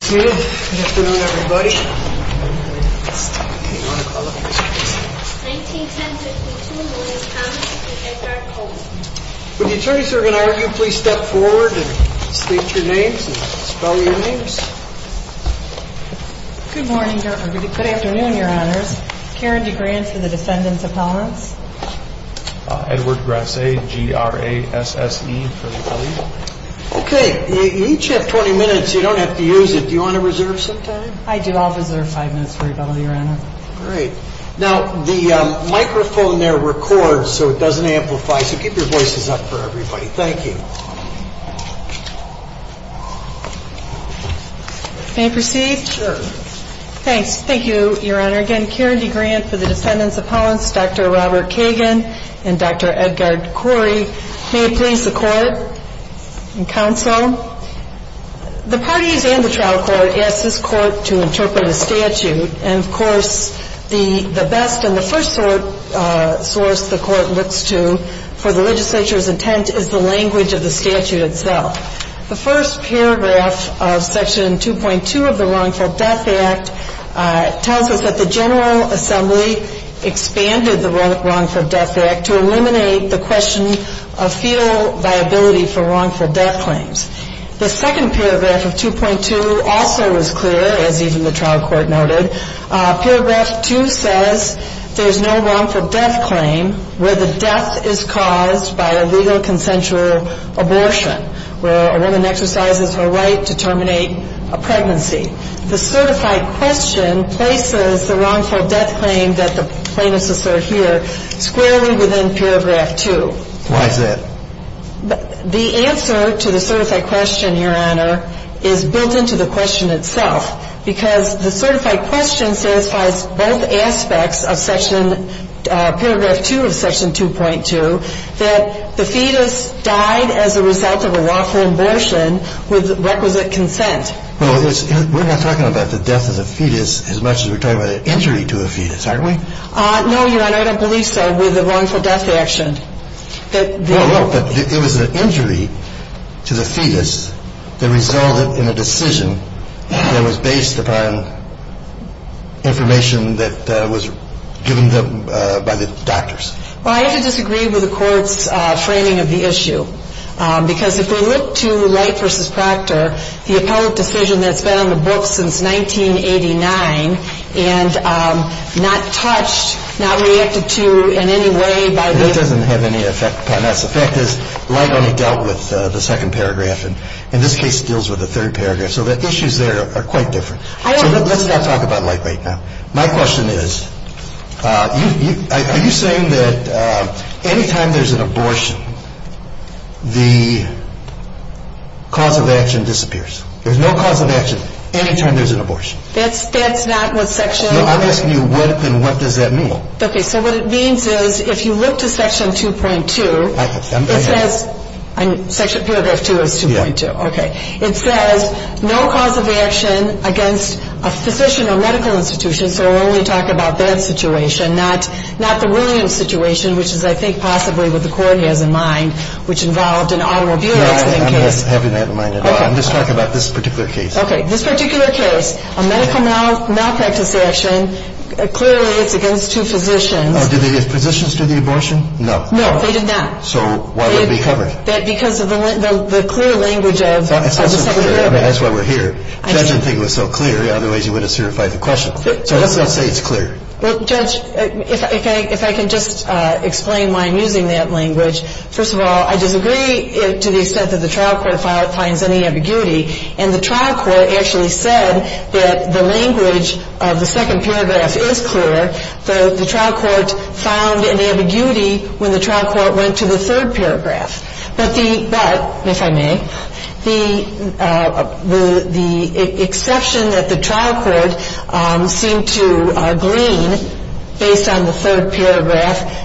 Good afternoon, everybody. Would the attorneys who are going to argue please step forward and state your names and spell your names? Good afternoon, Your Honors. Karen DeGrant for the defendants' appellants. Edward Grasset, G-R-A-S-S-E for the appellant. Okay, you each have 20 minutes. You don't have to use it. Do you want to reserve some time? I do. I'll reserve five minutes for rebuttal, Your Honor. Great. Now, the microphone there records so it doesn't amplify, so keep your voices up for everybody. Thank you. May I proceed? Sure. Thanks. Thank you, Your Honor. Again, Karen DeGrant for the defendants' appellants, Dr. Robert Kagan and Dr. Edgard Khoury. May it please the Court and counsel, the parties and the trial court asked this court to interpret a statute. And, of course, the best and the first source the court looks to for the legislature's intent is the language of the statute itself. The first paragraph of Section 2.2 of the Wrongful Death Act tells us that the General Assembly expanded the Wrongful Death Act to eliminate the question of fetal viability for wrongful death claims. The second paragraph of 2.2 also is clear, as even the trial court noted. Paragraph 2 says there's no wrongful death claim where the death is caused by a legal consensual abortion, where a woman exercises her right to terminate a pregnancy. The certified question places the wrongful death claim that the plaintiffs assert here squarely within paragraph 2. Why is that? The answer to the certified question, Your Honor, is built into the question itself, because the certified question satisfies both aspects of paragraph 2 of Section 2.2, that the fetus died as a result of a lawful abortion with requisite consent. Well, we're not talking about the death of the fetus as much as we're talking about an injury to a fetus, aren't we? No, Your Honor, I don't believe so, with the wrongful death action. No, no, but it was an injury to the fetus that resulted in a decision that was based upon information that was given by the doctors. Well, I have to disagree with the Court's framing of the issue, because if we look to Light v. Proctor, the appellate decision that's been on the books since 1989, and not touched, not reacted to in any way by the- That doesn't have any effect upon us. The fact is, Light only dealt with the second paragraph, and in this case deals with the third paragraph. So the issues there are quite different. So let's not talk about Light right now. My question is, are you saying that any time there's an abortion, the cause of action disappears? There's no cause of action any time there's an abortion. That's not what Section- No, I'm asking you, what does that mean? Okay, so what it means is, if you look to Section 2.2, it says- So we'll only talk about that situation, not the Williams situation, which is, I think, possibly what the Court has in mind, which involved an automobile accident case. I'm not having that in mind at all. I'm just talking about this particular case. Okay, this particular case, a medical malpractice action, clearly it's against two physicians. Did the physicians do the abortion? No. No, they did not. So why would it be covered? Because of the clear language of the second paragraph. I mean, that's why we're here. Judge didn't think it was so clear, otherwise he wouldn't have certified the question. So let's not say it's clear. Well, Judge, if I can just explain why I'm using that language. First of all, I disagree to the extent that the trial court finds any ambiguity. And the trial court actually said that the language of the second paragraph is clear. The trial court found an ambiguity when the trial court went to the third paragraph. But, if I may, the exception that the trial court seemed to glean based on the third paragraph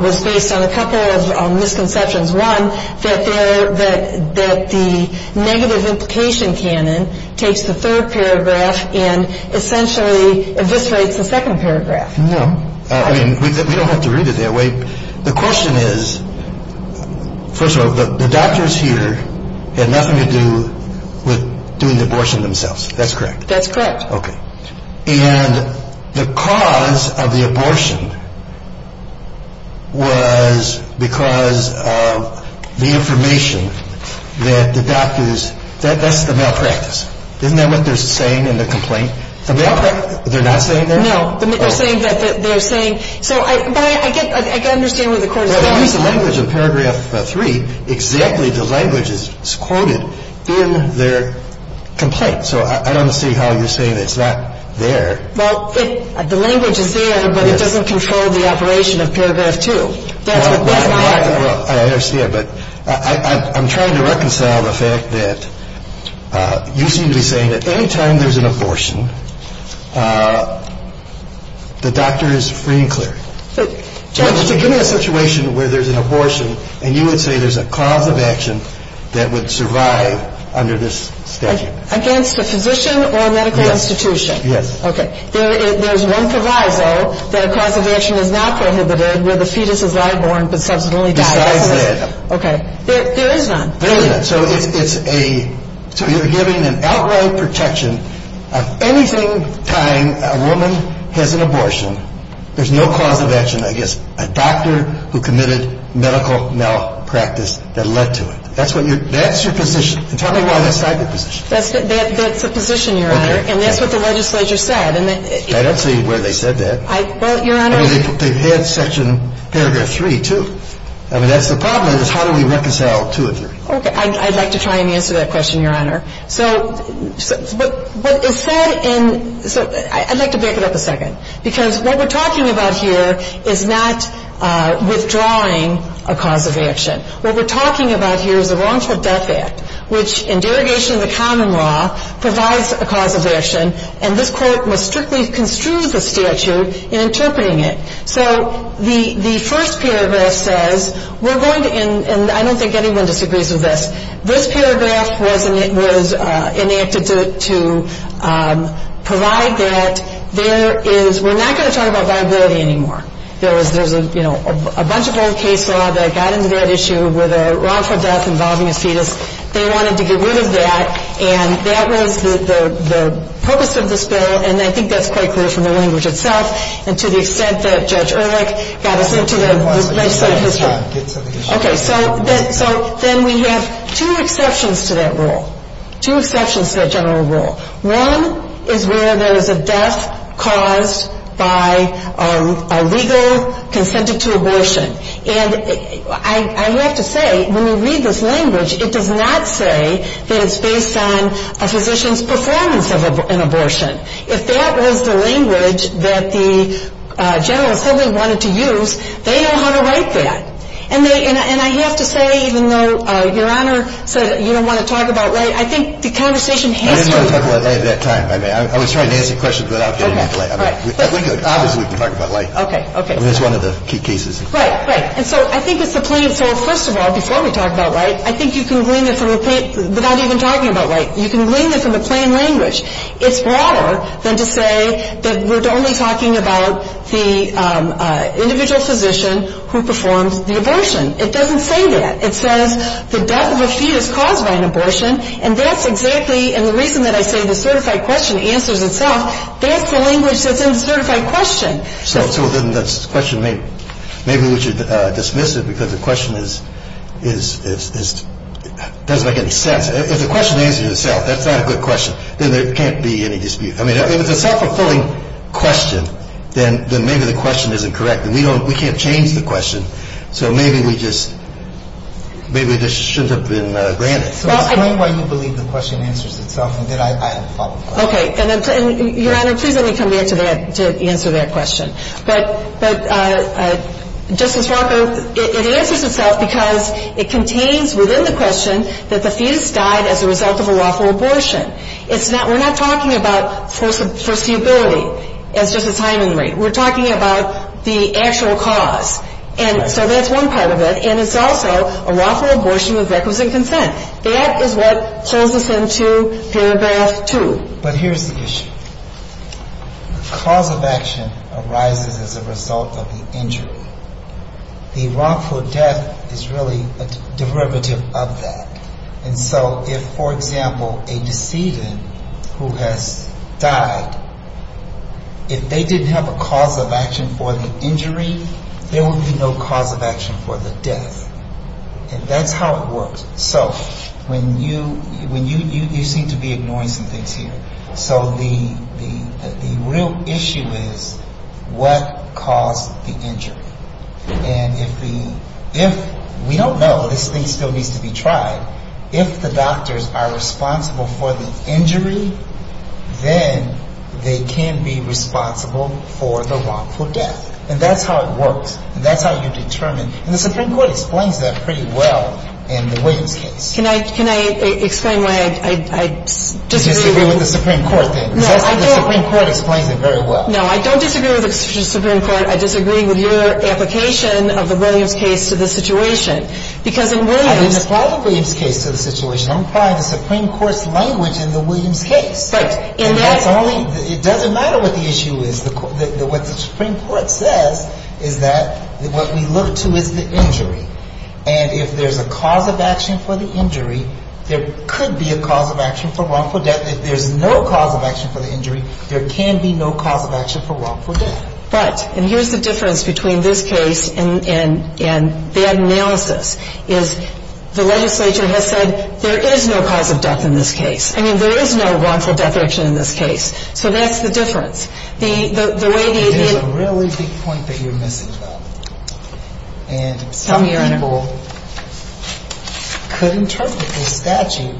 was based on a couple of misconceptions. One, that the negative implication canon takes the third paragraph and essentially eviscerates the second paragraph. No. I mean, we don't have to read it that way. The question is, first of all, the doctors here had nothing to do with doing the abortion themselves. That's correct. That's correct. Okay. And the cause of the abortion was because of the information that the doctors – that's the malpractice. Isn't that what they're saying in the complaint? The malpractice – they're not saying that? No. They're saying that they're saying – So I – but I get – I can understand where the court is going. Well, if you use the language of paragraph 3, exactly the language is quoted in their complaint. So I don't see how you're saying it's not there. Well, it – the language is there, but it doesn't control the operation of paragraph 2. That's what – that's not – Well, I understand. But I'm trying to reconcile the fact that you seem to be saying that any time there's an abortion, the doctor is free and clear. So – Give me a situation where there's an abortion, and you would say there's a cause of action that would survive under this statute. Against a physician or a medical institution? Yes. Yes. Okay. There's one proviso that a cause of action is not prohibited where the fetus is live-born but subsequently dies. Besides that. Okay. There is none. There is none. So it's a – so you're giving an outright protection of anything time a woman has an abortion, there's no cause of action, I guess, a doctor who committed medical malpractice that led to it. That's what your – that's your position. And tell me why that's not your position. That's the position, Your Honor. Okay. And that's what the legislature said. I don't see where they said that. Well, Your Honor – I mean, they've had section – paragraph 3, too. I mean, that's the problem is how do we reconcile 2 and 3? Okay. I'd like to try and answer that question, Your Honor. So what is said in – so I'd like to back it up a second. Because what we're talking about here is not withdrawing a cause of action. What we're talking about here is a wrongful death act, which in derogation of the common law, provides a cause of action, and this Court must strictly construe the statute in interpreting it. So the first paragraph says we're going to – and I don't think anyone disagrees with this. This paragraph was enacted to provide that there is – we're not going to talk about viability anymore. There's a bunch of old case law that got into that issue with a wrongful death involving a fetus. They wanted to get rid of that, and that was the purpose of this bill, and I think that's quite clear from the language itself and to the extent that Judge Ehrlich got us into the legislative history. Okay. So then we have two exceptions to that rule, two exceptions to that general rule. One is where there is a death caused by a legal consented to abortion. And I have to say, when we read this language, it does not say that it's based on a physician's performance of an abortion. If that was the language that the general assembly wanted to use, they know how to write that. And they – and I have to say, even though Your Honor said you don't want to talk about light, I think the conversation has to be – I didn't want to talk about light at that time. I mean, I was trying to answer your question without getting into light. Okay. Right. I mean, obviously we can talk about light. Okay. Okay. I mean, it's one of the key cases. Right. Right. And so I think it's the plain form. First of all, before we talk about light, I think you can glean it from a – without even talking about light. You can glean it from a plain language. It's broader than to say that we're only talking about the individual physician who performs the abortion. It doesn't say that. It says the death of a fetus caused by an abortion. And that's exactly – and the reason that I say the certified question answers itself, that's the language that's in the certified question. So then that's – the question may – maybe we should dismiss it because the question is – doesn't make any sense. If the question answers itself, that's not a good question. Then there can't be any dispute. I mean, if it's a self-fulfilling question, then maybe the question isn't correct. And we don't – we can't change the question. So maybe we just – maybe this shouldn't have been granted. So explain why you believe the question answers itself and that I have a follow-up question. Okay. And Your Honor, please let me come back to that – to answer that question. But, Justice Walker, it answers itself because it contains within the question that the fetus died as a result of a lawful abortion. It's not – we're not talking about foreseeability, as Justice Hyman wrote. We're talking about the actual cause. And so that's one part of it. And it's also a lawful abortion with requisite consent. That is what pulls us into Paragraph 2. But here's the issue. The cause of action arises as a result of the injury. The wrongful death is really a derivative of that. And so if, for example, a decedent who has died, if they didn't have a cause of action for the injury, there would be no cause of action for the death. And that's how it works. So when you – you seem to be ignoring some things here. So the real issue is what caused the injury. And if the – if – we don't know. This thing still needs to be tried. If the doctors are responsible for the injury, then they can be responsible for the wrongful death. And that's how it works. And that's how you determine – and the Supreme Court explains that pretty well in the Williams case. Can I – can I explain why I disagree with – You disagree with the Supreme Court then. No, I don't. The Supreme Court explains it very well. No, I don't disagree with the Supreme Court. I disagree with your application of the Williams case to the situation. Because in Williams – I didn't apply the Williams case to the situation. I'm applying the Supreme Court's language in the Williams case. Right. And that's only – it doesn't matter what the issue is. What the Supreme Court says is that what we look to is the injury. And if there's a cause of action for the injury, there could be a cause of action for wrongful death. If there's no cause of action for the injury, there can be no cause of action for wrongful death. Right. And here's the difference between this case and the analysis, is the legislature has said there is no cause of death in this case. I mean, there is no wrongful death action in this case. So that's the difference. The way the – There's a really big point that you're missing, though. And some people could interpret this statute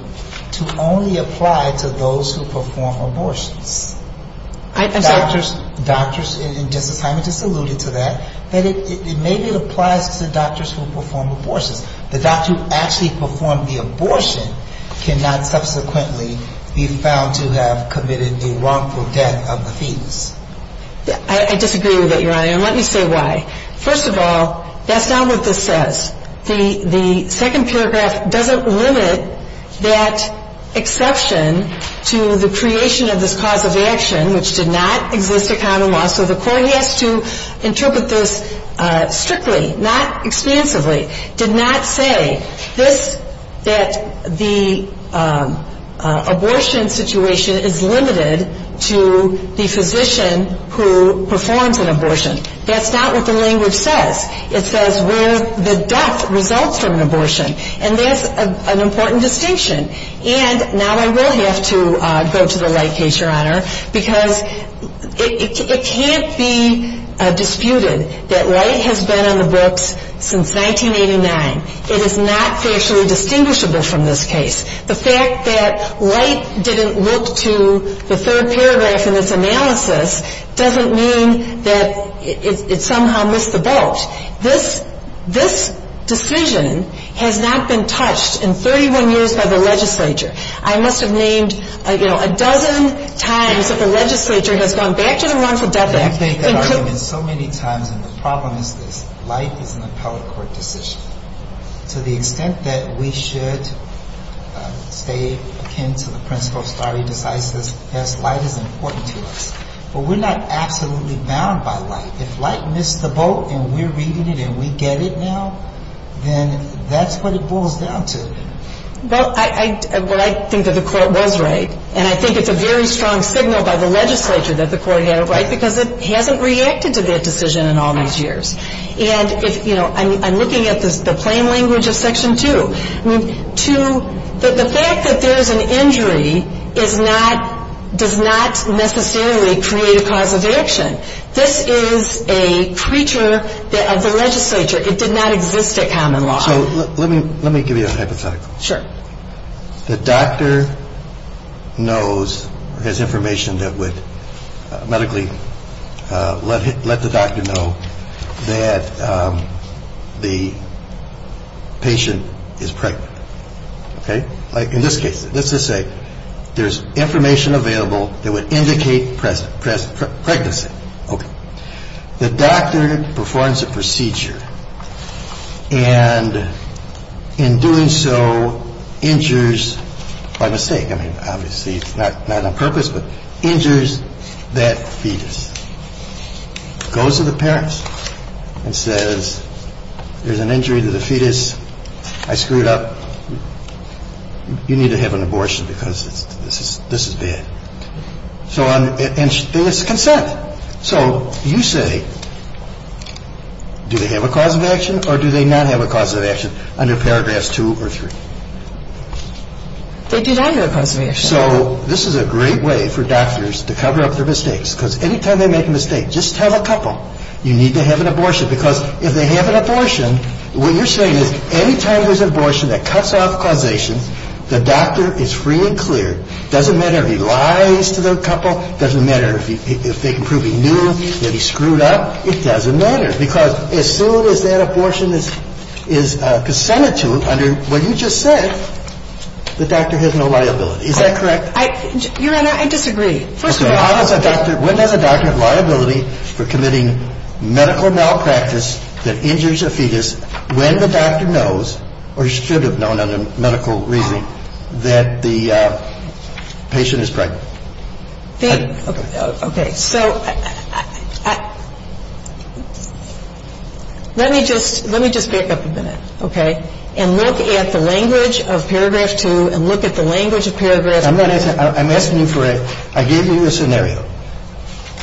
to only apply to those who perform abortions. I'm sorry. Doctors – and Justice Hyman just alluded to that – that it maybe applies to doctors who perform abortions. The doctor who actually performed the abortion cannot subsequently be found to have committed a wrongful death of the fetus. I disagree with that, Your Honor. And let me say why. First of all, that's not what this says. The second paragraph doesn't limit that exception to the creation of this cause of action, which did not exist in common law. So the court has to interpret this strictly, not expansively. Did not say this – that the abortion situation is limited to the physician who performs an abortion. That's not what the language says. It says where the death results from an abortion. And that's an important distinction. And now I will have to go to the Light case, Your Honor, because it can't be disputed that Light has been on the books since 1989. It is not factually distinguishable from this case. The fact that Light didn't look to the third paragraph in its analysis doesn't mean that it somehow missed the boat. This decision has not been touched in 31 years by the legislature. I must have named, you know, a dozen times that the legislature has gone back to the wrongful death act. I've made that argument so many times, and the problem is this. Light is an appellate court decision. To the extent that we should stay akin to the principle of stare decisis, yes, Light is important to us. But we're not absolutely bound by Light. If Light missed the boat and we're reading it and we get it now, then that's what it boils down to. Well, I think that the court was right, and I think it's a very strong signal by the legislature that the court had it right because it hasn't reacted to that decision in all these years. And, you know, I'm looking at the plain language of Section 2. I mean, 2, the fact that there's an injury is not, does not necessarily create a cause of action. This is a creature of the legislature. It did not exist at Common Law. So let me give you a hypothetical. Sure. The doctor knows, has information that would medically let the doctor know that the patient is pregnant. OK. Like in this case, let's just say there's information available that would indicate press press pregnancy. OK. The doctor performs a procedure and in doing so injures by mistake. I mean, obviously it's not a purpose, but injures that fetus. Goes to the parents and says, there's an injury to the fetus. I screwed up. You need to have an abortion because this is bad. So it's consent. So you say, do they have a cause of action or do they not have a cause of action under Paragraphs 2 or 3? They do not have a cause of action. So this is a great way for doctors to cover up their mistakes. Because any time they make a mistake, just tell a couple, you need to have an abortion. Because if they have an abortion, what you're saying is any time there's an abortion that cuts off causation, the doctor is free and clear. Doesn't matter if he lies to the couple. Doesn't matter if they can prove he knew that he screwed up. It doesn't matter. Because as soon as that abortion is consented to under what you just said, the doctor has no liability. If the doctor knows that the patient is pregnant, the doctor has no liability. Is that correct? Your Honor, I disagree. First of all, how does a doctor – when does a doctor have liability for committing medical malpractice that injures a fetus when the doctor knows, or should have known under medical reasoning, that the patient is pregnant? Okay. So let me just – let me just back up a minute, okay? And look at the language of Paragraph 2 and look at the language of Paragraph 2. I'm asking you for a – I gave you a scenario.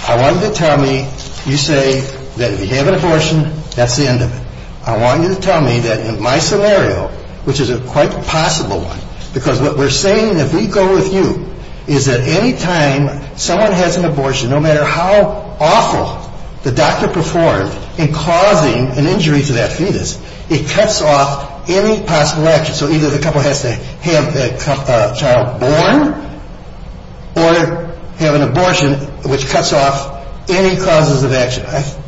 I want you to tell me you say that if you have an abortion, that's the end of it. I want you to tell me that in my scenario, which is quite a possible one, because what we're saying, if we go with you, is that any time someone has an abortion, no matter how awful the doctor performed in causing an injury to that fetus, it cuts off any possible action. So either the couple has to have a child born or have an abortion, which cuts off any causes of action.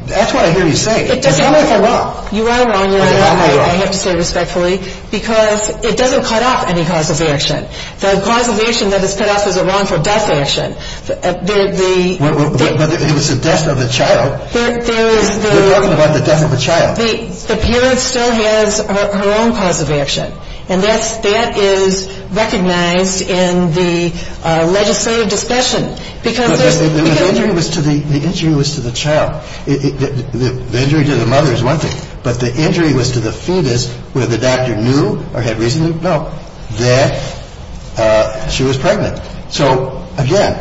That's what I hear you say. Tell me if I'm wrong. You are wrong, Your Honor. I have to say it respectfully. Because it doesn't cut off any cause of action. The cause of action that is cut off is a wrongful death action. The – But it was the death of the child. There is the – We're talking about the death of a child. The parent still has her own cause of action. And that's – that is recognized in the legislative discussion, because there's – But the injury was to the – the injury was to the child. The injury to the mother is one thing. But the injury was to the fetus where the doctor knew or had reason to know that she was pregnant. So, again,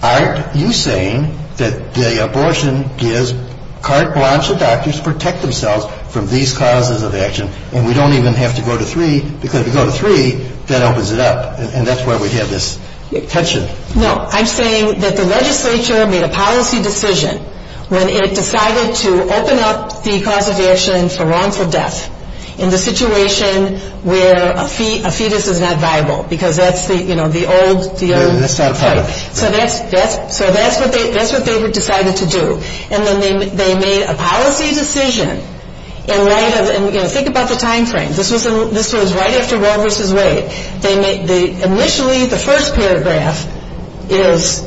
aren't you saying that the abortion gives carte blanche to doctors to protect themselves from these causes of action, and we don't even have to go to three, because if we go to three, that opens it up. And that's why we have this tension. No. I'm saying that the legislature made a policy decision when it decided to open up the cause of action for wrongful death in the situation where a fetus is not viable, because that's the, you know, the old – That's not a problem. So that's – so that's what they decided to do. And then they made a policy decision in light of – and, you know, think about the timeframe. This was right after Roe v. Wade. Initially, the first paragraph is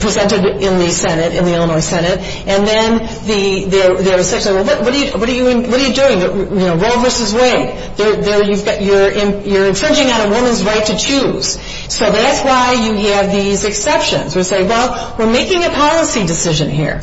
presented in the Senate, in the Illinois Senate, and then there's section – what are you doing? You know, Roe v. Wade. You're infringing on a woman's right to choose. So that's why you have these exceptions. We say, well, we're making a policy decision here.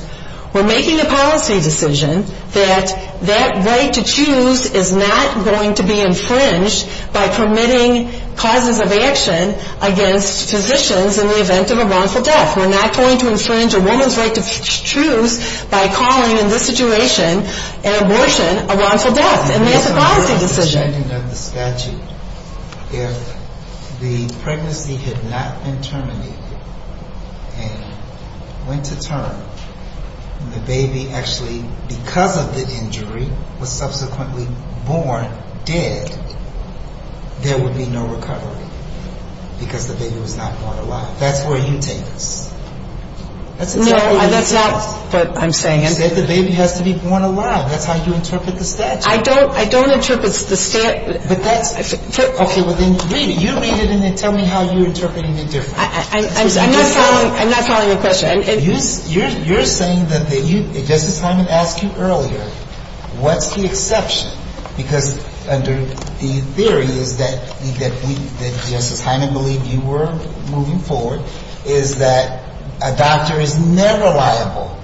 We're making a policy decision that that right to choose is not going to be infringed by permitting causes of action against physicians in the event of a wrongful death. We're not going to infringe a woman's right to choose by calling, in this situation, an abortion a wrongful death. And that's a policy decision. In the agenda of the statute, if the pregnancy had not been terminated and went to term, and the baby actually, because of the injury, was subsequently born dead, there would be no recovery because the baby was not born alive. That's where you take us. No, that's not what I'm saying. You said the baby has to be born alive. That's how you interpret the statute. I don't. I don't interpret the statute. Okay. Well, then read it. You read it, and then tell me how you're interpreting it differently. I'm not following the question. You're saying that you, Justice Hyman asked you earlier, what's the exception? Because under the theory is that we, that Justice Hyman believed you were moving forward, is that a doctor is never liable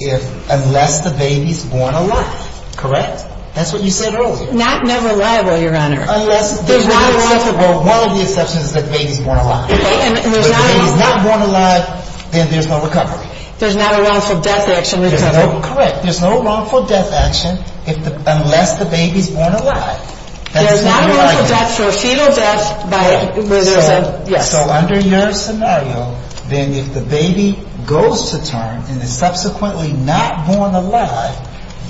if, unless the baby's born alive. Correct. That's what you said earlier. Not never liable, Your Honor. Unless there's not a wrongful death. Well, one of the exceptions is that the baby's born alive. Okay. And there's not a wrongful death. If the baby's not born alive, then there's no recovery. There's not a wrongful death action. Correct. There's no wrongful death action unless the baby's born alive. There's not a wrongful death for a fetal death by, where there's a, yes. So under your scenario, then if the baby goes to term and is subsequently not born alive,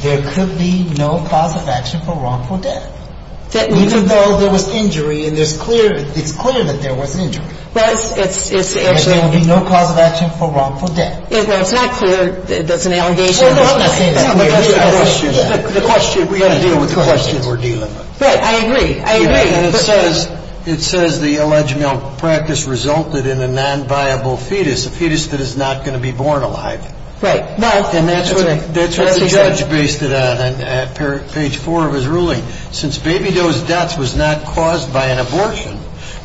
there could be no cause of action for wrongful death. Even though there was injury and there's clear, it's clear that there was injury. Well, it's actually. And there would be no cause of action for wrongful death. Well, it's not clear, that's an allegation. Well, I'm not saying it's clear. The question, we've got to deal with the question we're dealing with. Right. I agree. I agree. And it says, it says the alleged malpractice resulted in a nonviable fetus, a fetus that is not going to be born alive. Right. And that's what the judge based it on. Page four of his ruling. Since baby dose deaths was not caused by an abortion,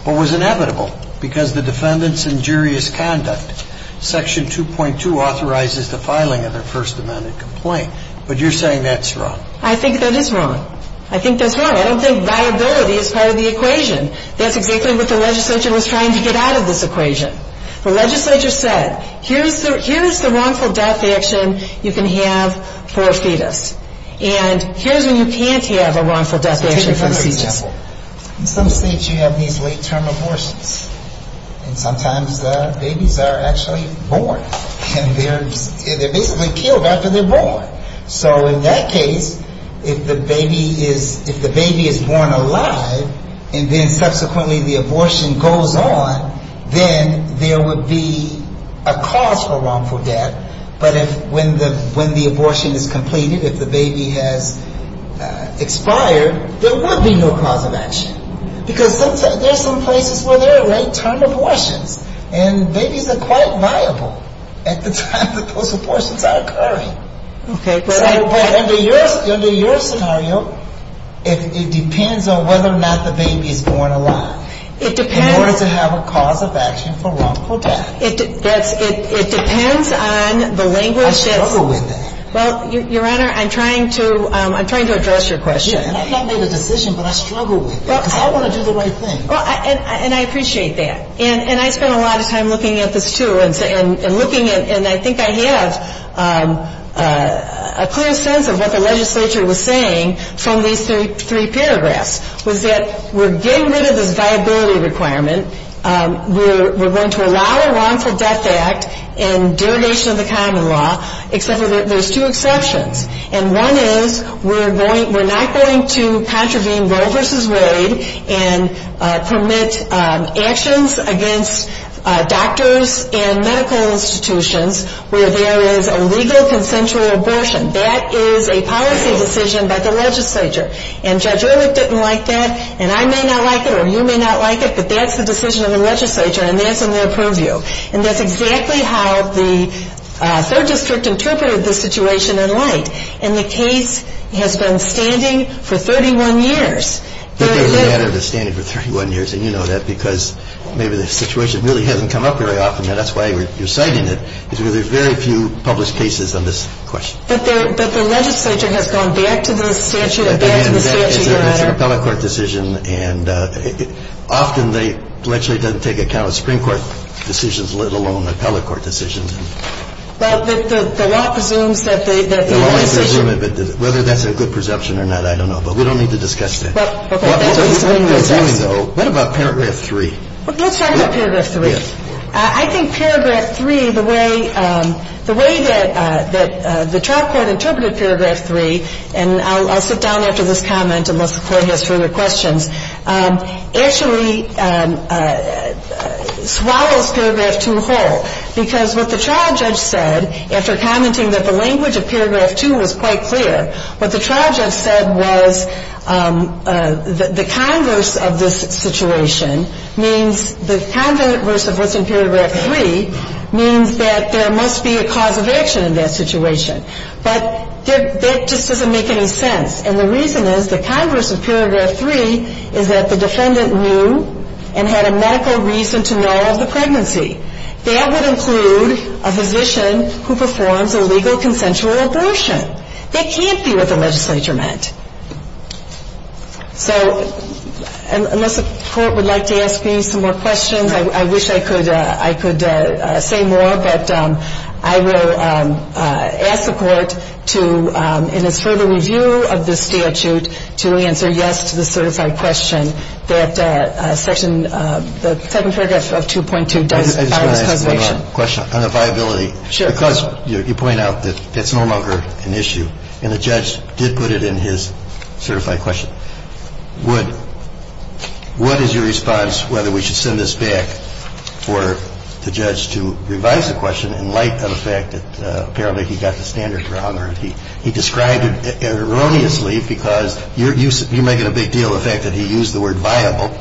but was inevitable, because the defendant's injurious conduct. Section 2.2 authorizes the filing of a first amendment complaint. But you're saying that's wrong. I think that is wrong. I think that's wrong. I don't think viability is part of the equation. That's exactly what the legislature was trying to get out of this equation. The legislature said, here's the wrongful death action you can have for a fetus. And here's when you can't have a wrongful death action for a fetus. Take another example. In some states you have these late term abortions. And sometimes the babies are actually born. And they're basically killed after they're born. So in that case, if the baby is born alive, and then subsequently the abortion goes on, then there would be a cause for wrongful death. But when the abortion is completed, if the baby has expired, there would be no cause of action. Because there are some places where there are late term abortions. And babies are quite viable at the time that those abortions are occurring. Okay. But under your scenario, it depends on whether or not the baby is born alive. In order to have a cause of action for wrongful death. It depends on the language. I struggle with that. Well, Your Honor, I'm trying to address your question. I've not made a decision, but I struggle with it. Because I want to do the right thing. And I appreciate that. And I spent a lot of time looking at this, too. And looking, and I think I have a clear sense of what the legislature was saying from these three paragraphs. Was that we're getting rid of this viability requirement. We're going to allow a wrongful death act and derogation of the common law. Except that there's two exceptions. And one is we're not going to contravene Roe versus Wade and permit actions against doctors and medical institutions where there is a legal consensual abortion. That is a policy decision by the legislature. And Judge Ehrlich didn't like that. And I may not like it or you may not like it. But that's the decision of the legislature. And that's in their purview. And that's exactly how the third district interpreted the situation in light. And the case has been standing for 31 years. It doesn't matter if it's standing for 31 years. And you know that because maybe the situation really hasn't come up very often. And that's why you're citing it. Because there are very few published cases on this question. But the legislature has gone back to the statute. It's an appellate court decision. And often the legislature doesn't take account of Supreme Court decisions, let alone appellate court decisions. Well, the law presumes that the decision. Whether that's a good presumption or not, I don't know. But we don't need to discuss that. What about Paragraph 3? Let's talk about Paragraph 3. I think Paragraph 3, the way that the trial court interpreted Paragraph 3, and I'll sit down after this comment unless the Court has further questions, actually swallows Paragraph 2 whole. Because what the trial judge said, after commenting that the language of Paragraph 2 was quite clear, what the trial judge said was the converse of this situation means, the converse of what's in Paragraph 3 means that there must be a cause of action in that situation. But that just doesn't make any sense. And the reason is the converse of Paragraph 3 is that the defendant knew and had a medical reason to know of the pregnancy. That would include a physician who performs a legal consensual abortion. That can't be what the legislature meant. So unless the Court would like to ask me some more questions, I wish I could say more. But I will ask the Court to, in its further review of the statute, to answer yes to the certified question that Section – the second paragraph of 2.2 does. I just want to ask one more question on the viability. Sure. Because you point out that it's no longer an issue and the judge did put it in his certified question, would – what is your response whether we should send this back for the judge to revise the question in light of the fact that apparently he got the standards wrong or he described it erroneously because you're making a big deal of the fact that he used the word viable.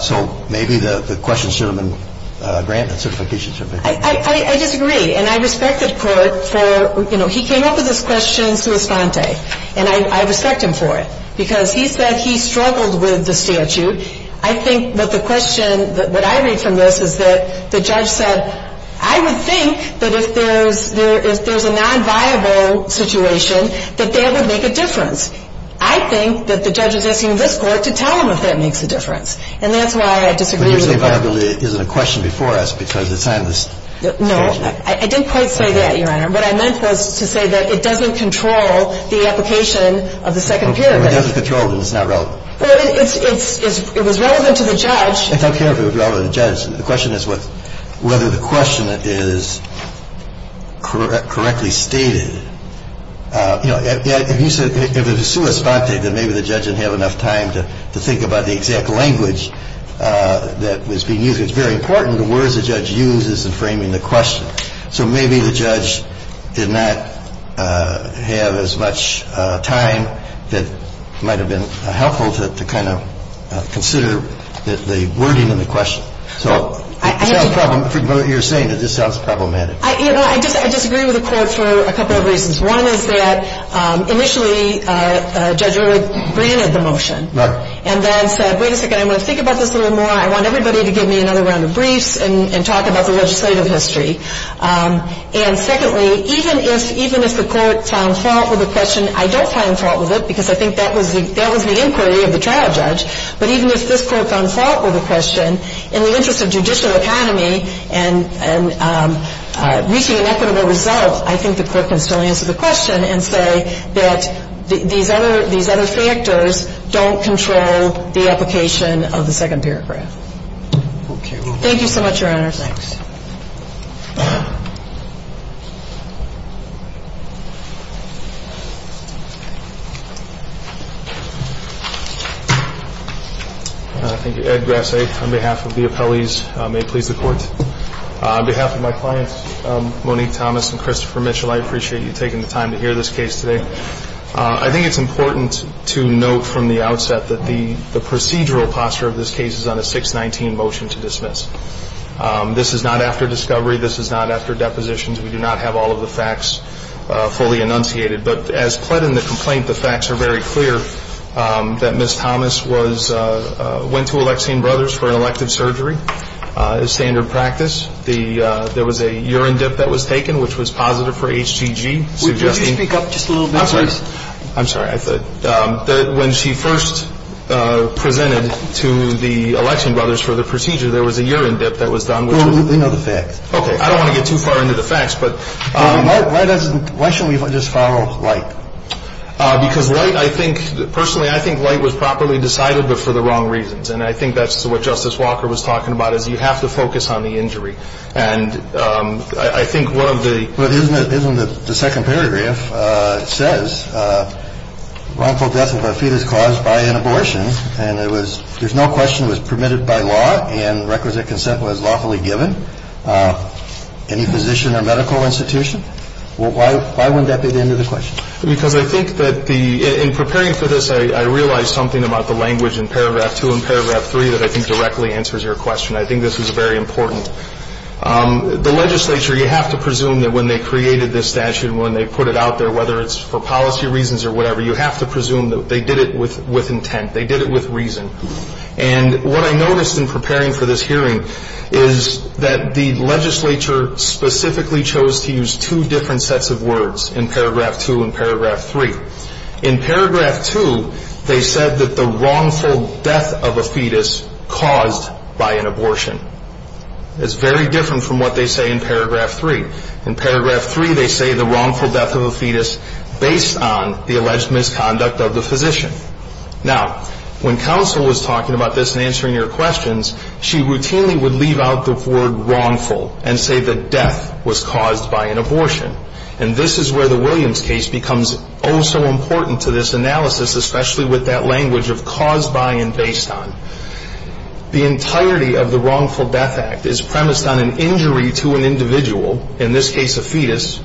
So maybe the question should have been granted a certification certificate. I disagree. And I respect the Court for – you know, he came up with this question sua sponte. And I respect him for it because he said he struggled with the statute. I think what the question – what I read from this is that the judge said, I would think that if there's a nonviable situation, that that would make a difference. I think that the judge is asking this Court to tell him if that makes a difference. And that's why I disagree with the Court. And you're saying viability isn't a question before us because it's on the statute. No. I didn't quite say that, Your Honor. What I meant was to say that it doesn't control the application of the Second Period. It doesn't control it and it's not relevant. Well, it's – it was relevant to the judge. I don't care if it was relevant to the judge. The question is whether the question is correctly stated. You know, if you said – if it was sua sponte, then maybe the judge didn't have enough time to think about the exact language that was being used. It's very important the words the judge uses in framing the question. So maybe the judge did not have as much time that might have been helpful to kind of consider the wording in the question. So it sounds problematic. You're saying it just sounds problematic. You know, I disagree with the Court for a couple of reasons. One is that initially Judge Rood granted the motion. Right. And then said, wait a second, I want to think about this a little more. I want everybody to give me another round of briefs and talk about the legislative history. And secondly, even if the Court found fault with the question, I don't find fault with it because I think that was the inquiry of the trial judge. But even if this Court found fault with the question, in the interest of judicial economy and reaching an equitable result, I think the Court can still answer the question and say that these other factors don't control the application of the second paragraph. Okay. Thank you so much, Your Honor. Thanks. Thank you, Ed Grassi. On behalf of the appellees, may it please the Court. On behalf of my clients, Monique Thomas and Christopher Mitchell, I appreciate you taking the time to hear this case today. I think it's important to note from the outset that the procedural posture of this case is on a 619 motion to dismiss. This is not after discovery. This is not after depositions. We do not have all of the facts fully enunciated. But as pled in the complaint, the facts are very clear, that Ms. Thomas went to Alexian Brothers for an elective surgery. It's standard practice. There was a urine dip that was taken, which was positive for HGG. Could you speak up just a little bit, please? I'm sorry. I'm sorry. When she first presented to the Alexian Brothers for the procedure, there was a urine dip that was done, which was negative. Do you know the facts? Okay. I don't want to get too far into the facts. But why doesn't ‑‑ why don't we just follow the light? Personally, I think light was properly decided, but for the wrong reasons. And I think that's what Justice Walker was talking about, is you have to focus on the injury. And I think one of the� But isn't the second paragraph said wrongful death of a fetus caused by an abortion? And it was�—there's no question it was permitted by law, and requisite consent was lawfully given. you have to focus on the injury. And I think that's what Justice Walker was talking about, is you have to focus on the injury. And I think one of the�‑ But isn't the second paragraph said wrongful death of a fetus caused by an abortion? And it was�—there's no question it was permitted by law, and requisite consent was lawfully given. Any physician or medical institution? Why wouldn't that be the end of the question? Because I think that the�—in preparing for this, I realized something about the language in paragraph 2 and paragraph 3 that I think directly answers your question. I think this is very important. The legislature, you have to presume that there's an injury. And what I noticed in preparing for this hearing is that the legislature specifically chose to use two different sets of words in paragraph 2 and paragraph 3. In paragraph 2, they said that the wrongful death of a fetus caused by an abortion. It's very different from what they say in paragraph 3. In paragraph 3, they say the wrongful death of a fetus based on the alleged misconduct of the physician. Now, when counsel was talking about this and answering your questions, she routinely would leave out the word wrongful and say that death was caused by an abortion. And this is where the Williams case becomes oh so important to this analysis, especially with that language of caused by and based on. The entirety of the Wrongful Death Act is premised on an injury to an individual, in this case a fetus,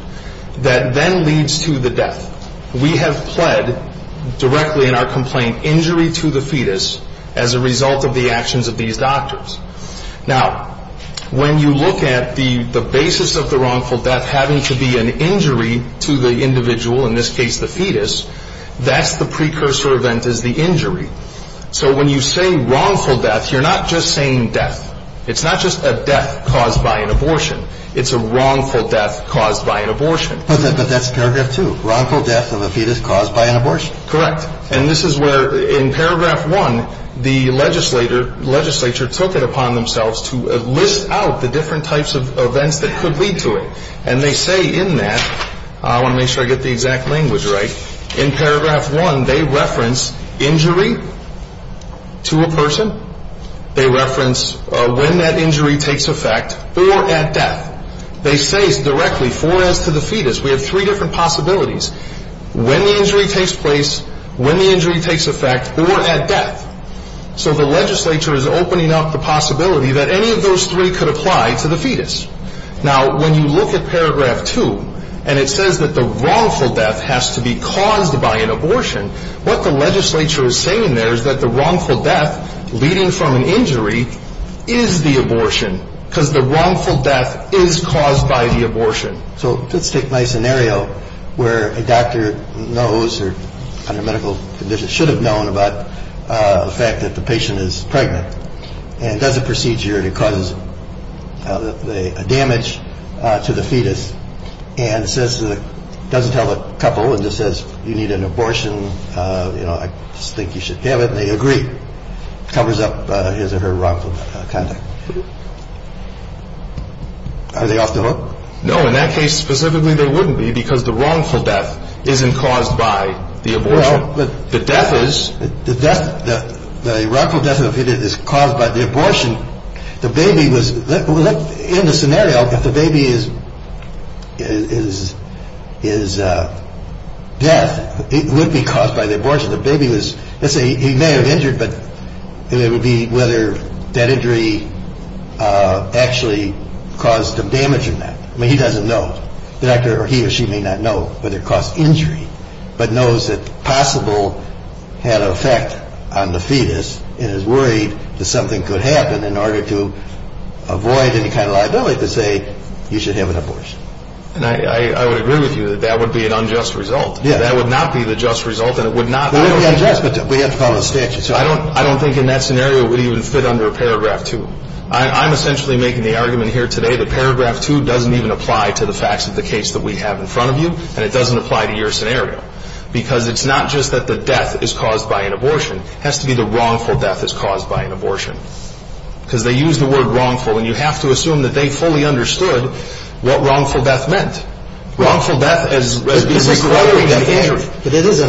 that then leads to the death. We have pled directly in our complaint injury to the fetus as a result of the actions of these doctors. Now, when you look at the basis of the wrongful death having to be an injury to the individual, in this case the fetus, that's the precursor event is the injury. So when you say wrongful death, you're not just saying death. It's not just a death caused by an abortion. It's a wrongful death caused by an abortion. But that's paragraph 2, wrongful death of a fetus caused by an abortion. Correct. And this is where in paragraph 1 the legislature took it upon themselves to list out the different types of events that could lead to it. And they say in that, I want to make sure I get the exact language right, in paragraph 1 they reference injury to a person. They reference when that injury takes effect or at death. They say directly for as to the fetus. We have three different possibilities. When the injury takes place, when the injury takes effect, or at death. So the legislature is opening up the possibility that any of those three could apply to the fetus. Now, when you look at paragraph 2 and it says that the wrongful death has to be caused by an abortion, what the legislature is saying there is that the wrongful death leading from an injury is the abortion because the wrongful death is caused by the abortion. So let's take my scenario where a doctor knows or under medical conditions should have known about the fact that the patient is pregnant and does a procedure and it causes damage to the fetus and doesn't tell the couple and just says you need an abortion, you know, I think you should have it. And they agree. Covers up his or her wrongful death. Are they off the hook? No. In that case, specifically, they wouldn't be because the wrongful death isn't caused by the abortion. The death is. The death, the wrongful death is caused by the abortion. The baby was, in the scenario, if the baby is, is, is death, it would be caused by the abortion. Let's say he may have injured but it would be whether that injury actually caused the damage in that. I mean, he doesn't know. The doctor or he or she may not know whether it caused injury but knows that possible had an effect on the fetus and is worried that something could happen in order to avoid any kind of liability to say you should have an abortion. And I would agree with you that that would be an unjust result. Yeah. That would not be the just result and it would not. It would be unjust but we have to follow the statutes. I don't, I don't think in that scenario it would even fit under paragraph two. I'm essentially making the argument here today that paragraph two doesn't even apply to the facts of the case that we have in front of you and it doesn't apply to your scenario because it's not just that the death is caused by an abortion. It has to be the wrongful death is caused by an abortion because they use the word wrongful and you have to assume that they fully understood what wrongful death meant. Wrongful death as being the primary injury. But it is a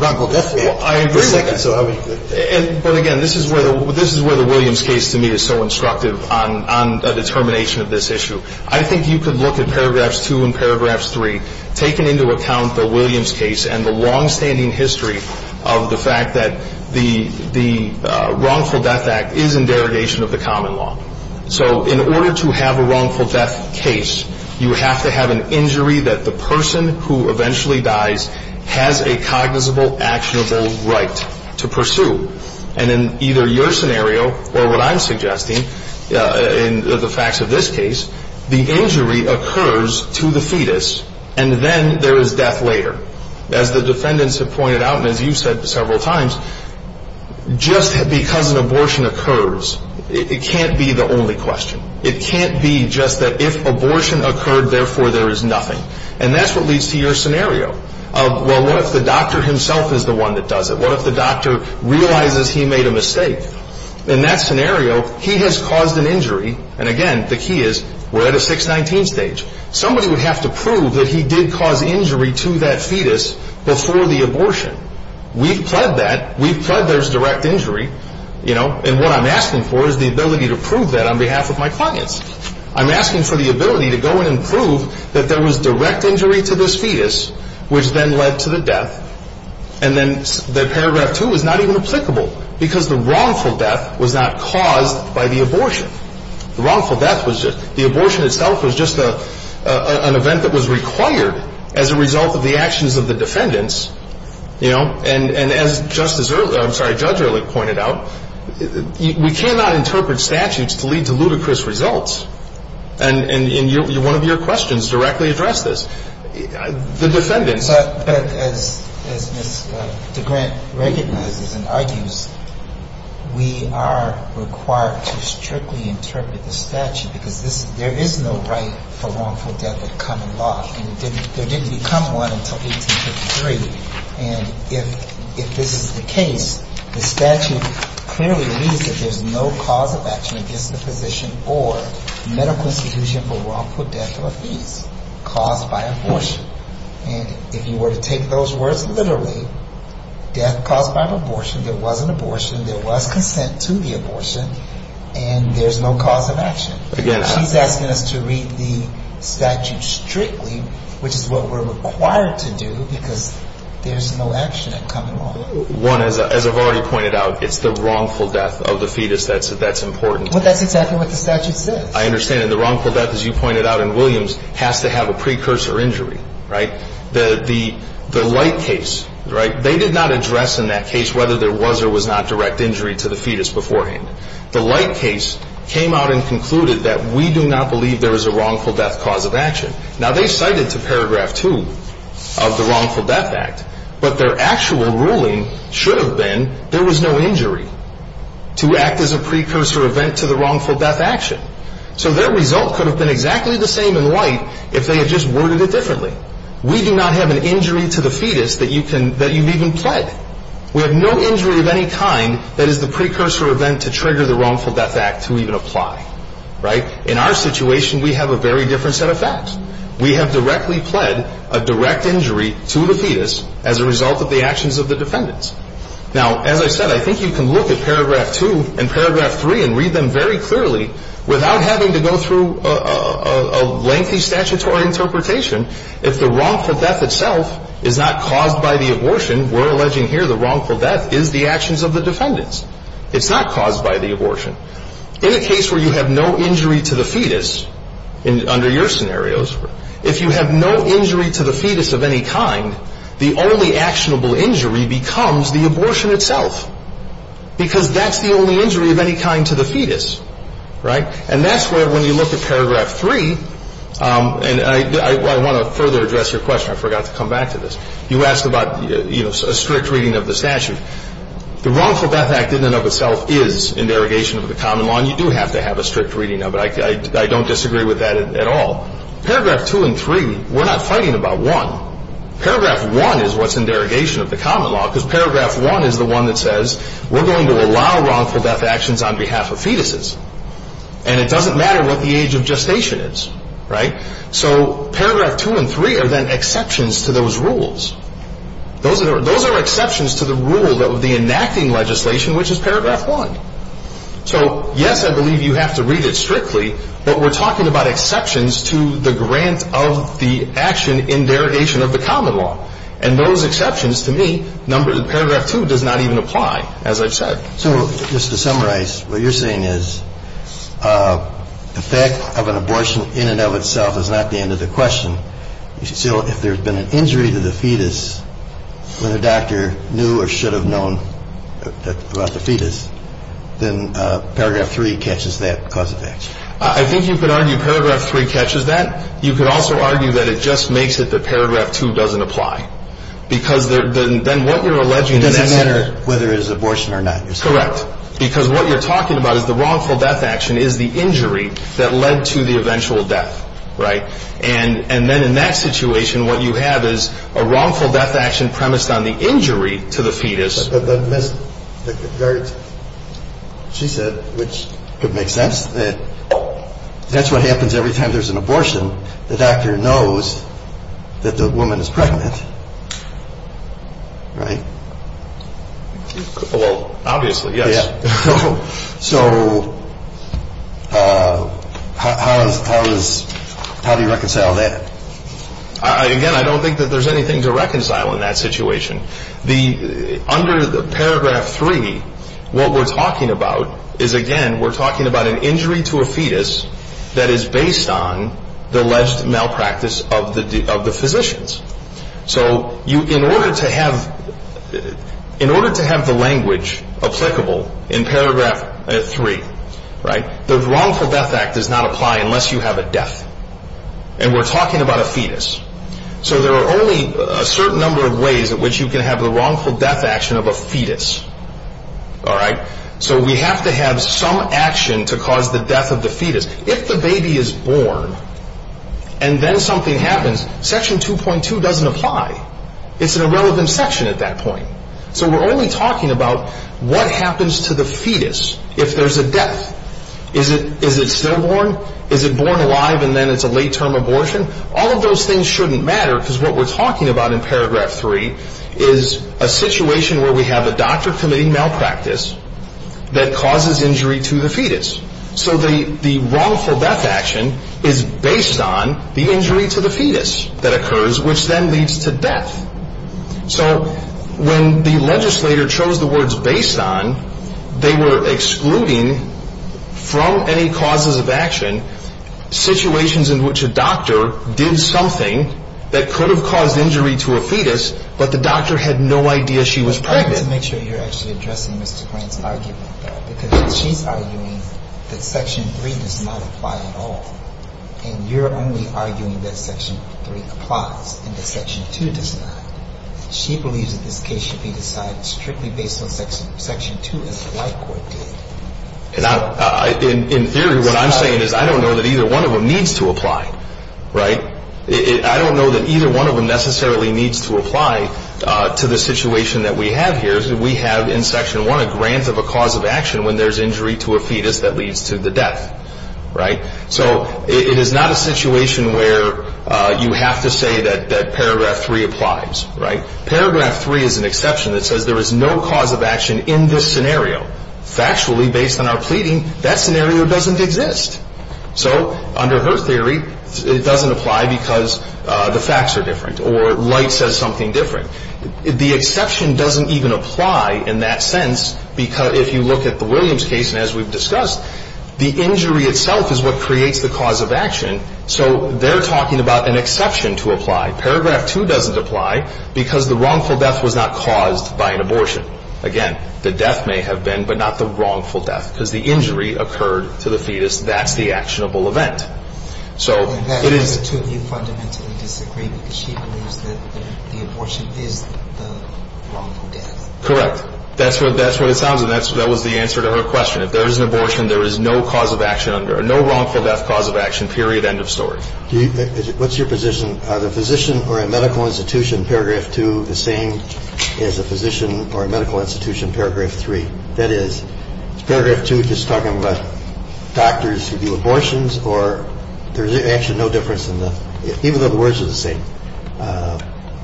wrongful death case. I agree with that. But again, this is where the Williams case to me is so instructive on a determination of this issue. I think you could look at paragraphs two and paragraphs three, taking into account the Williams case and the longstanding history of the fact that the wrongful death act is in derogation of the common law. So in order to have a wrongful death case, you have to have an injury that the person who eventually dies has a cognizable, actionable right to pursue. And in either your scenario or what I'm suggesting in the facts of this case, the injury occurs to the fetus and then there is death later. As the defendants have pointed out and as you've said several times, just because an abortion occurs, it can't be the only question. It can't be just that if abortion occurred, therefore there is nothing. And that's what leads to your scenario. Well, what if the doctor himself is the one that does it? What if the doctor realizes he made a mistake? In that scenario, he has caused an injury. And again, the key is we're at a 619 stage. Somebody would have to prove that he did cause injury to that fetus before the abortion. We've pled that. We've pled there's direct injury. And what I'm asking for is the ability to prove that on behalf of my clients. I'm asking for the ability to go in and prove that there was direct injury to this fetus, which then led to the death. And then paragraph 2 is not even applicable because the wrongful death was not caused by the abortion. The wrongful death was just the abortion itself was just an event that was required as a result of the actions of the defendants. You know? And as Justice Early – I'm sorry, Judge Early pointed out, we cannot interpret statutes to lead to ludicrous results. And one of your questions directly addressed this. The defendants – But as Ms. DeGrant recognizes and argues, we are required to strictly interpret the statute because there is no right for wrongful death in common law. And there didn't become one until 1853. And if this is the case, the statute clearly reads that there's no cause of action against the position or medical institution for wrongful death or abuse caused by abortion. And if you were to take those words literally, death caused by abortion, there was an abortion, there was consent to the abortion, and there's no cause of action. She's asking us to read the statute strictly, which is what we're required to do because there's no action in common law. One, as I've already pointed out, it's the wrongful death of the fetus that's important. But that's exactly what the statute says. I understand. And the wrongful death, as you pointed out in Williams, has to have a precursor injury, right? The light case, right, they did not address in that case whether there was or was not direct injury to the fetus beforehand. The light case came out and concluded that we do not believe there is a wrongful death cause of action. Now, they cited to paragraph 2 of the Wrongful Death Act, but their actual ruling should have been there was no injury to act as a precursor event to the wrongful death action. So their result could have been exactly the same in light if they had just worded it differently. We do not have an injury to the fetus that you've even pled. We have no injury of any kind that is the precursor event to trigger the Wrongful Death Act to even apply, right? In our situation, we have a very different set of facts. We have directly pled a direct injury to the fetus as a result of the actions of the defendants. Now, as I said, I think you can look at paragraph 2 and paragraph 3 and read them very clearly without having to go through a lengthy statutory interpretation. If the wrongful death itself is not caused by the abortion, we're alleging here the wrongful death is the actions of the defendants. It's not caused by the abortion. In a case where you have no injury to the fetus under your scenarios, if you have no injury to the fetus of any kind, the only actionable injury becomes the abortion itself because that's the only injury of any kind to the fetus, right? And that's where when you look at paragraph 3, and I want to further address your question. I forgot to come back to this. You asked about a strict reading of the statute. The Wrongful Death Act in and of itself is in derogation of the common law, and you do have to have a strict reading of it. I don't disagree with that at all. Paragraph 2 and 3, we're not fighting about one. Paragraph 1 is what's in derogation of the common law because paragraph 1 is the one that says we're going to allow wrongful death actions on behalf of fetuses. And it doesn't matter what the age of gestation is, right? So paragraph 2 and 3 are then exceptions to those rules. Those are exceptions to the rule of the enacting legislation, which is paragraph 1. So, yes, I believe you have to read it strictly, but we're talking about exceptions to the grant of the action in derogation of the common law. And those exceptions, to me, paragraph 2 does not even apply, as I've said. So just to summarize, what you're saying is the fact of an abortion in and of itself is not the end of the question. Still, if there's been an injury to the fetus when a doctor knew or should have known about the fetus, then paragraph 3 catches that cause of action. I think you could argue paragraph 3 catches that. You could also argue that it just makes it that paragraph 2 doesn't apply, because then what you're alleging in that scenario — It doesn't matter whether it's abortion or not, you're saying. Correct. Because what you're talking about is the wrongful death action is the injury that led to the eventual death, right? And then in that situation, what you have is a wrongful death action premised on the injury to the fetus. But, Miss, she said, which could make sense, that that's what happens every time there's an abortion. The doctor knows that the woman is pregnant, right? Well, obviously, yes. So how do you reconcile that? Again, I don't think that there's anything to reconcile in that situation. Under paragraph 3, what we're talking about is, again, we're talking about an injury to a fetus that is based on the alleged malpractice of the physicians. So in order to have the language applicable in paragraph 3, right, the wrongful death act does not apply unless you have a death. And we're talking about a fetus. So there are only a certain number of ways in which you can have the wrongful death action of a fetus, all right? So we have to have some action to cause the death of the fetus. If the baby is born and then something happens, section 2.2 doesn't apply. It's an irrelevant section at that point. So we're only talking about what happens to the fetus if there's a death. Is it stillborn? Is it born alive and then it's a late-term abortion? All of those things shouldn't matter because what we're talking about in paragraph 3 is a situation where we have a doctor committing malpractice that causes injury to the fetus. So the wrongful death action is based on the injury to the fetus that occurs, which then leads to death. So when the legislator chose the words based on, they were excluding from any causes of action situations in which a doctor did something that could have caused injury to a fetus, but the doctor had no idea she was pregnant. But I want to make sure you're actually addressing Mr. Grant's argument there because she's arguing that section 3 does not apply at all. And you're only arguing that section 3 applies and that section 2 does not. She believes that this case should be decided strictly based on section 2, as the White Court did. In theory, what I'm saying is I don't know that either one of them needs to apply. I don't know that either one of them necessarily needs to apply to the situation that we have here. We have in section 1 a grant of a cause of action when there's injury to a fetus that leads to the death. So it is not a situation where you have to say that paragraph 3 applies. Paragraph 3 is an exception that says there is no cause of action in this scenario. Factually, based on our pleading, that scenario doesn't exist. So under her theory, it doesn't apply because the facts are different or Light says something different. The exception doesn't even apply in that sense because if you look at the Williams case, and as we've discussed, the injury itself is what creates the cause of action. So they're talking about an exception to apply. Paragraph 2 doesn't apply because the wrongful death was not caused by an abortion. Again, the death may have been, but not the wrongful death because the injury occurred to the fetus. That's the actionable event. So it is... And that makes the two of you fundamentally disagree because she believes that the abortion is the wrongful death. Correct. That's what it sounds like. And that was the answer to her question. If there is an abortion, there is no cause of action under it, no wrongful death cause of action, period, end of story. What's your position? Are the physician or a medical institution, paragraph 2, the same as a physician or a medical institution, paragraph 3? That is, is paragraph 2 just talking about doctors who do abortions or there's actually no difference in the...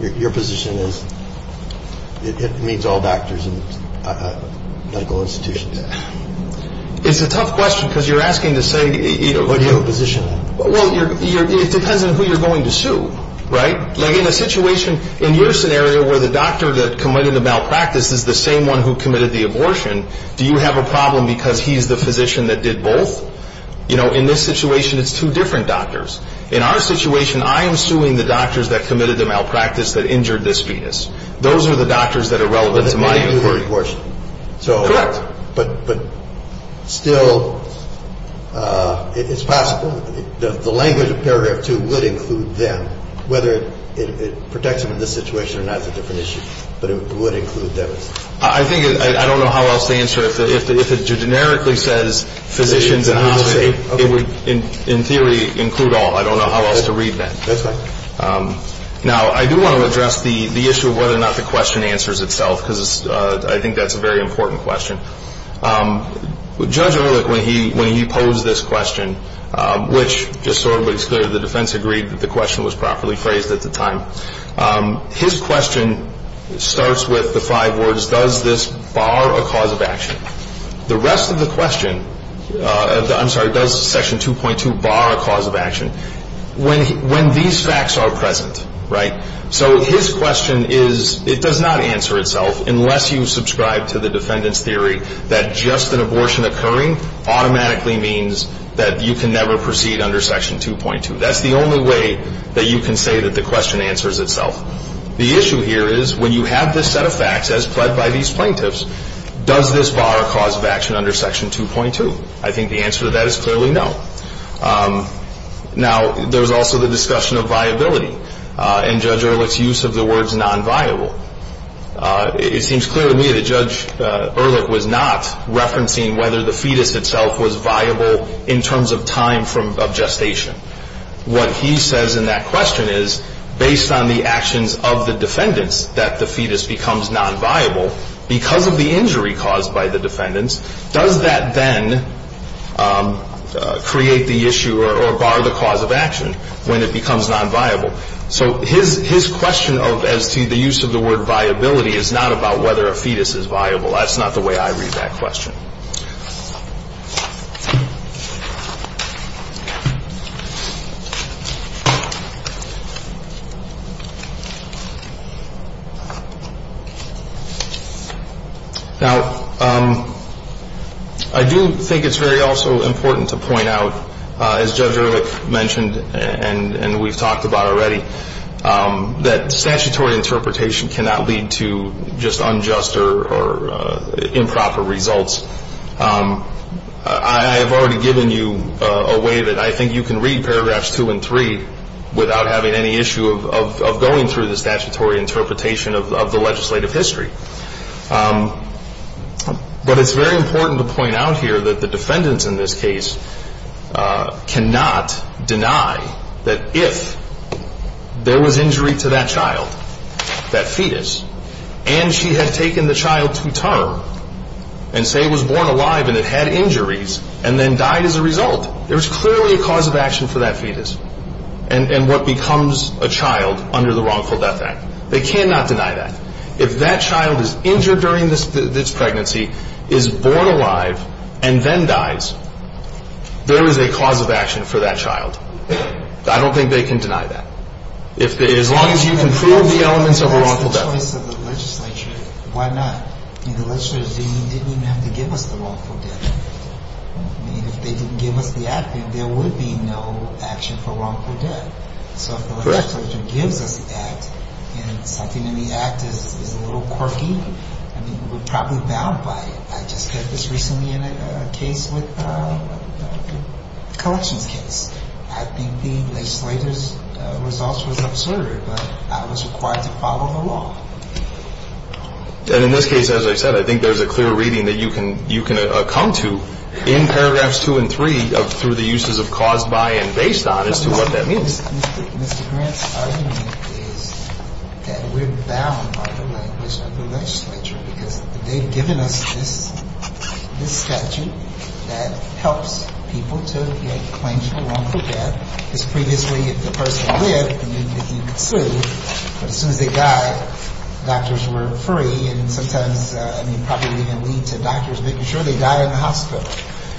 Your position is it means all doctors and medical institutions. It's a tough question because you're asking to say... What do you have a position on? Well, it depends on who you're going to sue, right? Like in a situation, in your scenario where the doctor that committed the malpractice is the same one who committed the abortion, do you have a problem because he's the physician that did both? You know, in this situation, it's two different doctors. In our situation, I am suing the doctors that committed the malpractice that injured this fetus. Those are the doctors that are relevant to my inquiry. Correct. But still, it's possible. The language of paragraph 2 would include them, whether it protects them in this situation or not is a different issue. But it would include them. I think, I don't know how else to answer. If it generically says physicians and hospitals, it would, in theory, include all. I don't know how else to read that. That's fine. Now, I do want to address the issue of whether or not the question answers itself because I think that's a very important question. Judge Erlich, when he posed this question, which just sort of was clear, the defense agreed that the question was properly phrased at the time. His question starts with the five words, does this bar a cause of action? The rest of the question, I'm sorry, does section 2.2 bar a cause of action? When these facts are present, right? So his question is, it does not answer itself unless you subscribe to the defendant's theory that just an abortion occurring automatically means that you can never proceed under section 2.2. That's the only way that you can say that the question answers itself. The issue here is when you have this set of facts as pled by these plaintiffs, does this bar a cause of action under section 2.2? I think the answer to that is clearly no. Now, there's also the discussion of viability and Judge Erlich's use of the words nonviable. It seems clear to me that Judge Erlich was not referencing whether the fetus itself was viable in terms of time of gestation. What he says in that question is based on the actions of the defendants that the fetus becomes nonviable, because of the injury caused by the defendants, does that then create the issue or bar the cause of action when it becomes nonviable? So his question as to the use of the word viability is not about whether a fetus is viable. That's not the way I read that question. Now, I do think it's very also important to point out, as Judge Erlich mentioned and we've talked about already, that statutory interpretation cannot lead to just unjust or improper results. I have already given you a way that I think you can read paragraphs 2 and 3 without having any issue of going through the statutory interpretation of the legislative history. But it's very important to point out here that the defendants in this case cannot deny that if there was injury to that child, that fetus, and she had taken the child to term and say it was born alive and it had injuries and then died as a result, there's clearly a cause of action for that fetus and what becomes a child under the Wrongful Death Act. They cannot deny that. If that child is injured during this pregnancy, is born alive, and then dies, there is a cause of action for that child. I don't think they can deny that. As long as you can prove the elements of a wrongful death. If that's the choice of the legislature, why not? The legislature didn't even have to give us the wrongful death. If they didn't give us the act, then there would be no action for wrongful death. Correct. The legislature gives us the act, and something in the act is a little quirky. I mean, we're probably bound by it. I just heard this recently in a case with a collections case. I think the legislature's results was absurd, but I was required to follow the law. And in this case, as I said, I think there's a clear reading that you can come to in paragraphs 2 and 3 through the uses of caused by and based on as to what that means. Mr. Grant's argument is that we're bound by the language of the legislature because they've given us this statute that helps people to get claims for wrongful death. Because previously, if the person lived, you could sue, but as soon as they died, doctors were free, and sometimes, I mean, probably even lead to doctors making sure they died in the hospital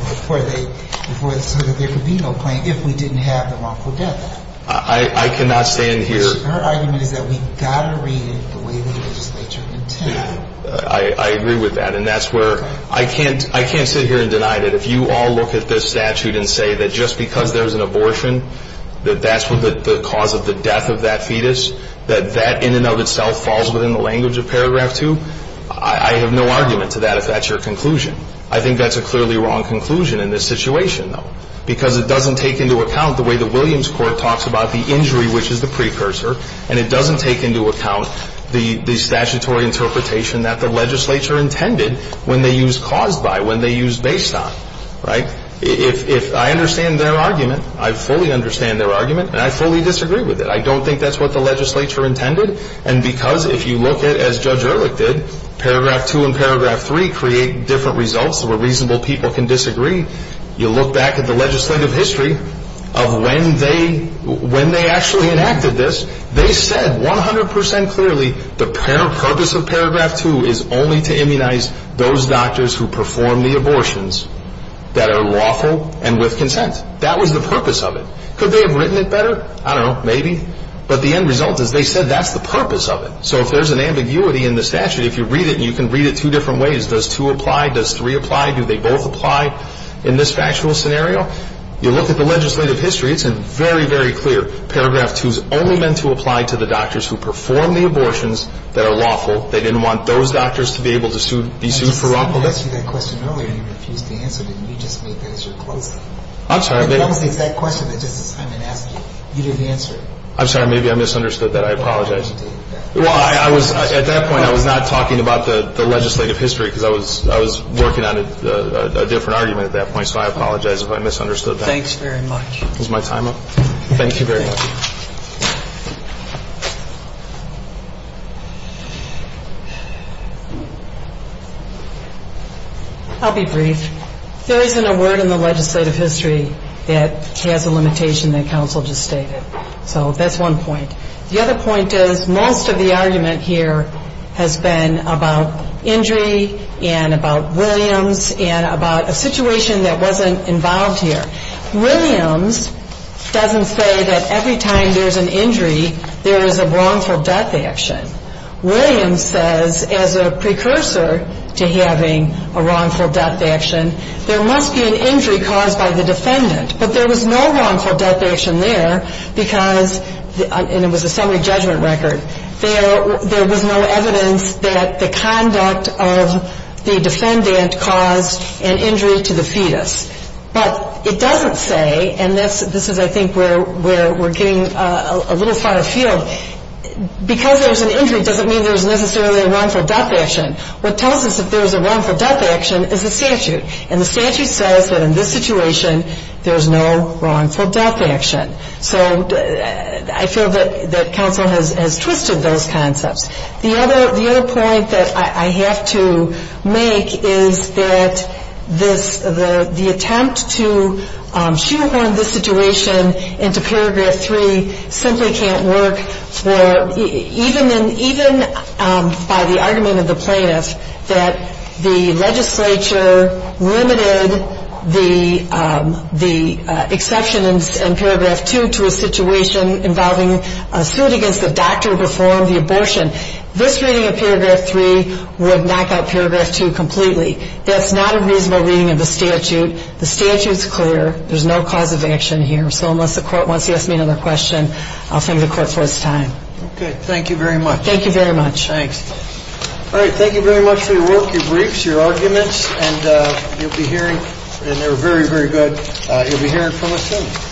so that there could be no claim if we didn't have the wrongful death. I cannot stand here. Her argument is that we've got to read it the way the legislature intended. I agree with that, and that's where I can't sit here and deny that if you all look at this statute and say that just because there's an abortion, that that's the cause of the death of that fetus, that that in and of itself falls within the language of paragraph 2, I have no argument to that if that's your conclusion. I think that's a clearly wrong conclusion in this situation, though, because it doesn't take into account the way the Williams Court talks about the injury, which is the precursor, and it doesn't take into account the statutory interpretation that the legislature intended when they used caused by, when they used based on, right? If I understand their argument, I fully understand their argument, and I fully disagree with it. I don't think that's what the legislature intended, and because if you look at it as Judge Ehrlich did, paragraph 2 and paragraph 3 create different results where reasonable people can disagree. You look back at the legislative history of when they actually enacted this, they said 100 percent clearly the purpose of paragraph 2 is only to immunize those doctors who perform the abortions that are lawful and with consent. That was the purpose of it. Could they have written it better? I don't know. Maybe. But the end result is they said that's the purpose of it. So if there's an ambiguity in the statute, if you read it, and you can read it two different ways, does 2 apply, does 3 apply, do they both apply in this factual scenario? You look at the legislative history, it's very, very clear. Paragraph 2 is only meant to apply to the doctors who perform the abortions that are lawful. They didn't want those doctors to be able to be sued for lawfulness. I'm sorry. Maybe I misunderstood that. I apologize. Well, at that point I was not talking about the legislative history because I was working on a different argument at that point, so I apologize if I misunderstood that. Thanks very much. Is my time up? Thank you very much. I'll be brief. There isn't a word in the legislative history that has a limitation that counsel just stated. So that's one point. The other point is most of the argument here has been about injury and about Williams and about a situation that wasn't involved here. Williams doesn't say that every time there's an injury there is a wrongful death action. Williams says as a precursor to having a wrongful death action, there must be an injury caused by the defendant. But there was no wrongful death action there because, and it was a summary judgment record, there was no evidence that the conduct of the defendant caused an injury to the fetus. But it doesn't say, and this is I think where we're getting a little far afield, because there's an injury doesn't mean there's necessarily a wrongful death action. What tells us if there's a wrongful death action is the statute. And the statute says that in this situation there's no wrongful death action. So I feel that counsel has twisted those concepts. The other point that I have to make is that the attempt to shoehorn this situation into paragraph 3 simply can't work even by the argument of the plaintiff that the legislature limited the exception in paragraph 2 to a situation involving a suit against the doctor before the abortion. This reading of paragraph 3 would knock out paragraph 2 completely. That's not a reasonable reading of the statute. The statute's clear. There's no cause of action here. So unless the court wants to ask me another question, I'll thank the court for its time. Okay. Thank you very much. Thank you very much. Thanks. All right. Thank you very much for your work, your briefs, your arguments. And you'll be hearing, and they were very, very good, you'll be hearing from us soon.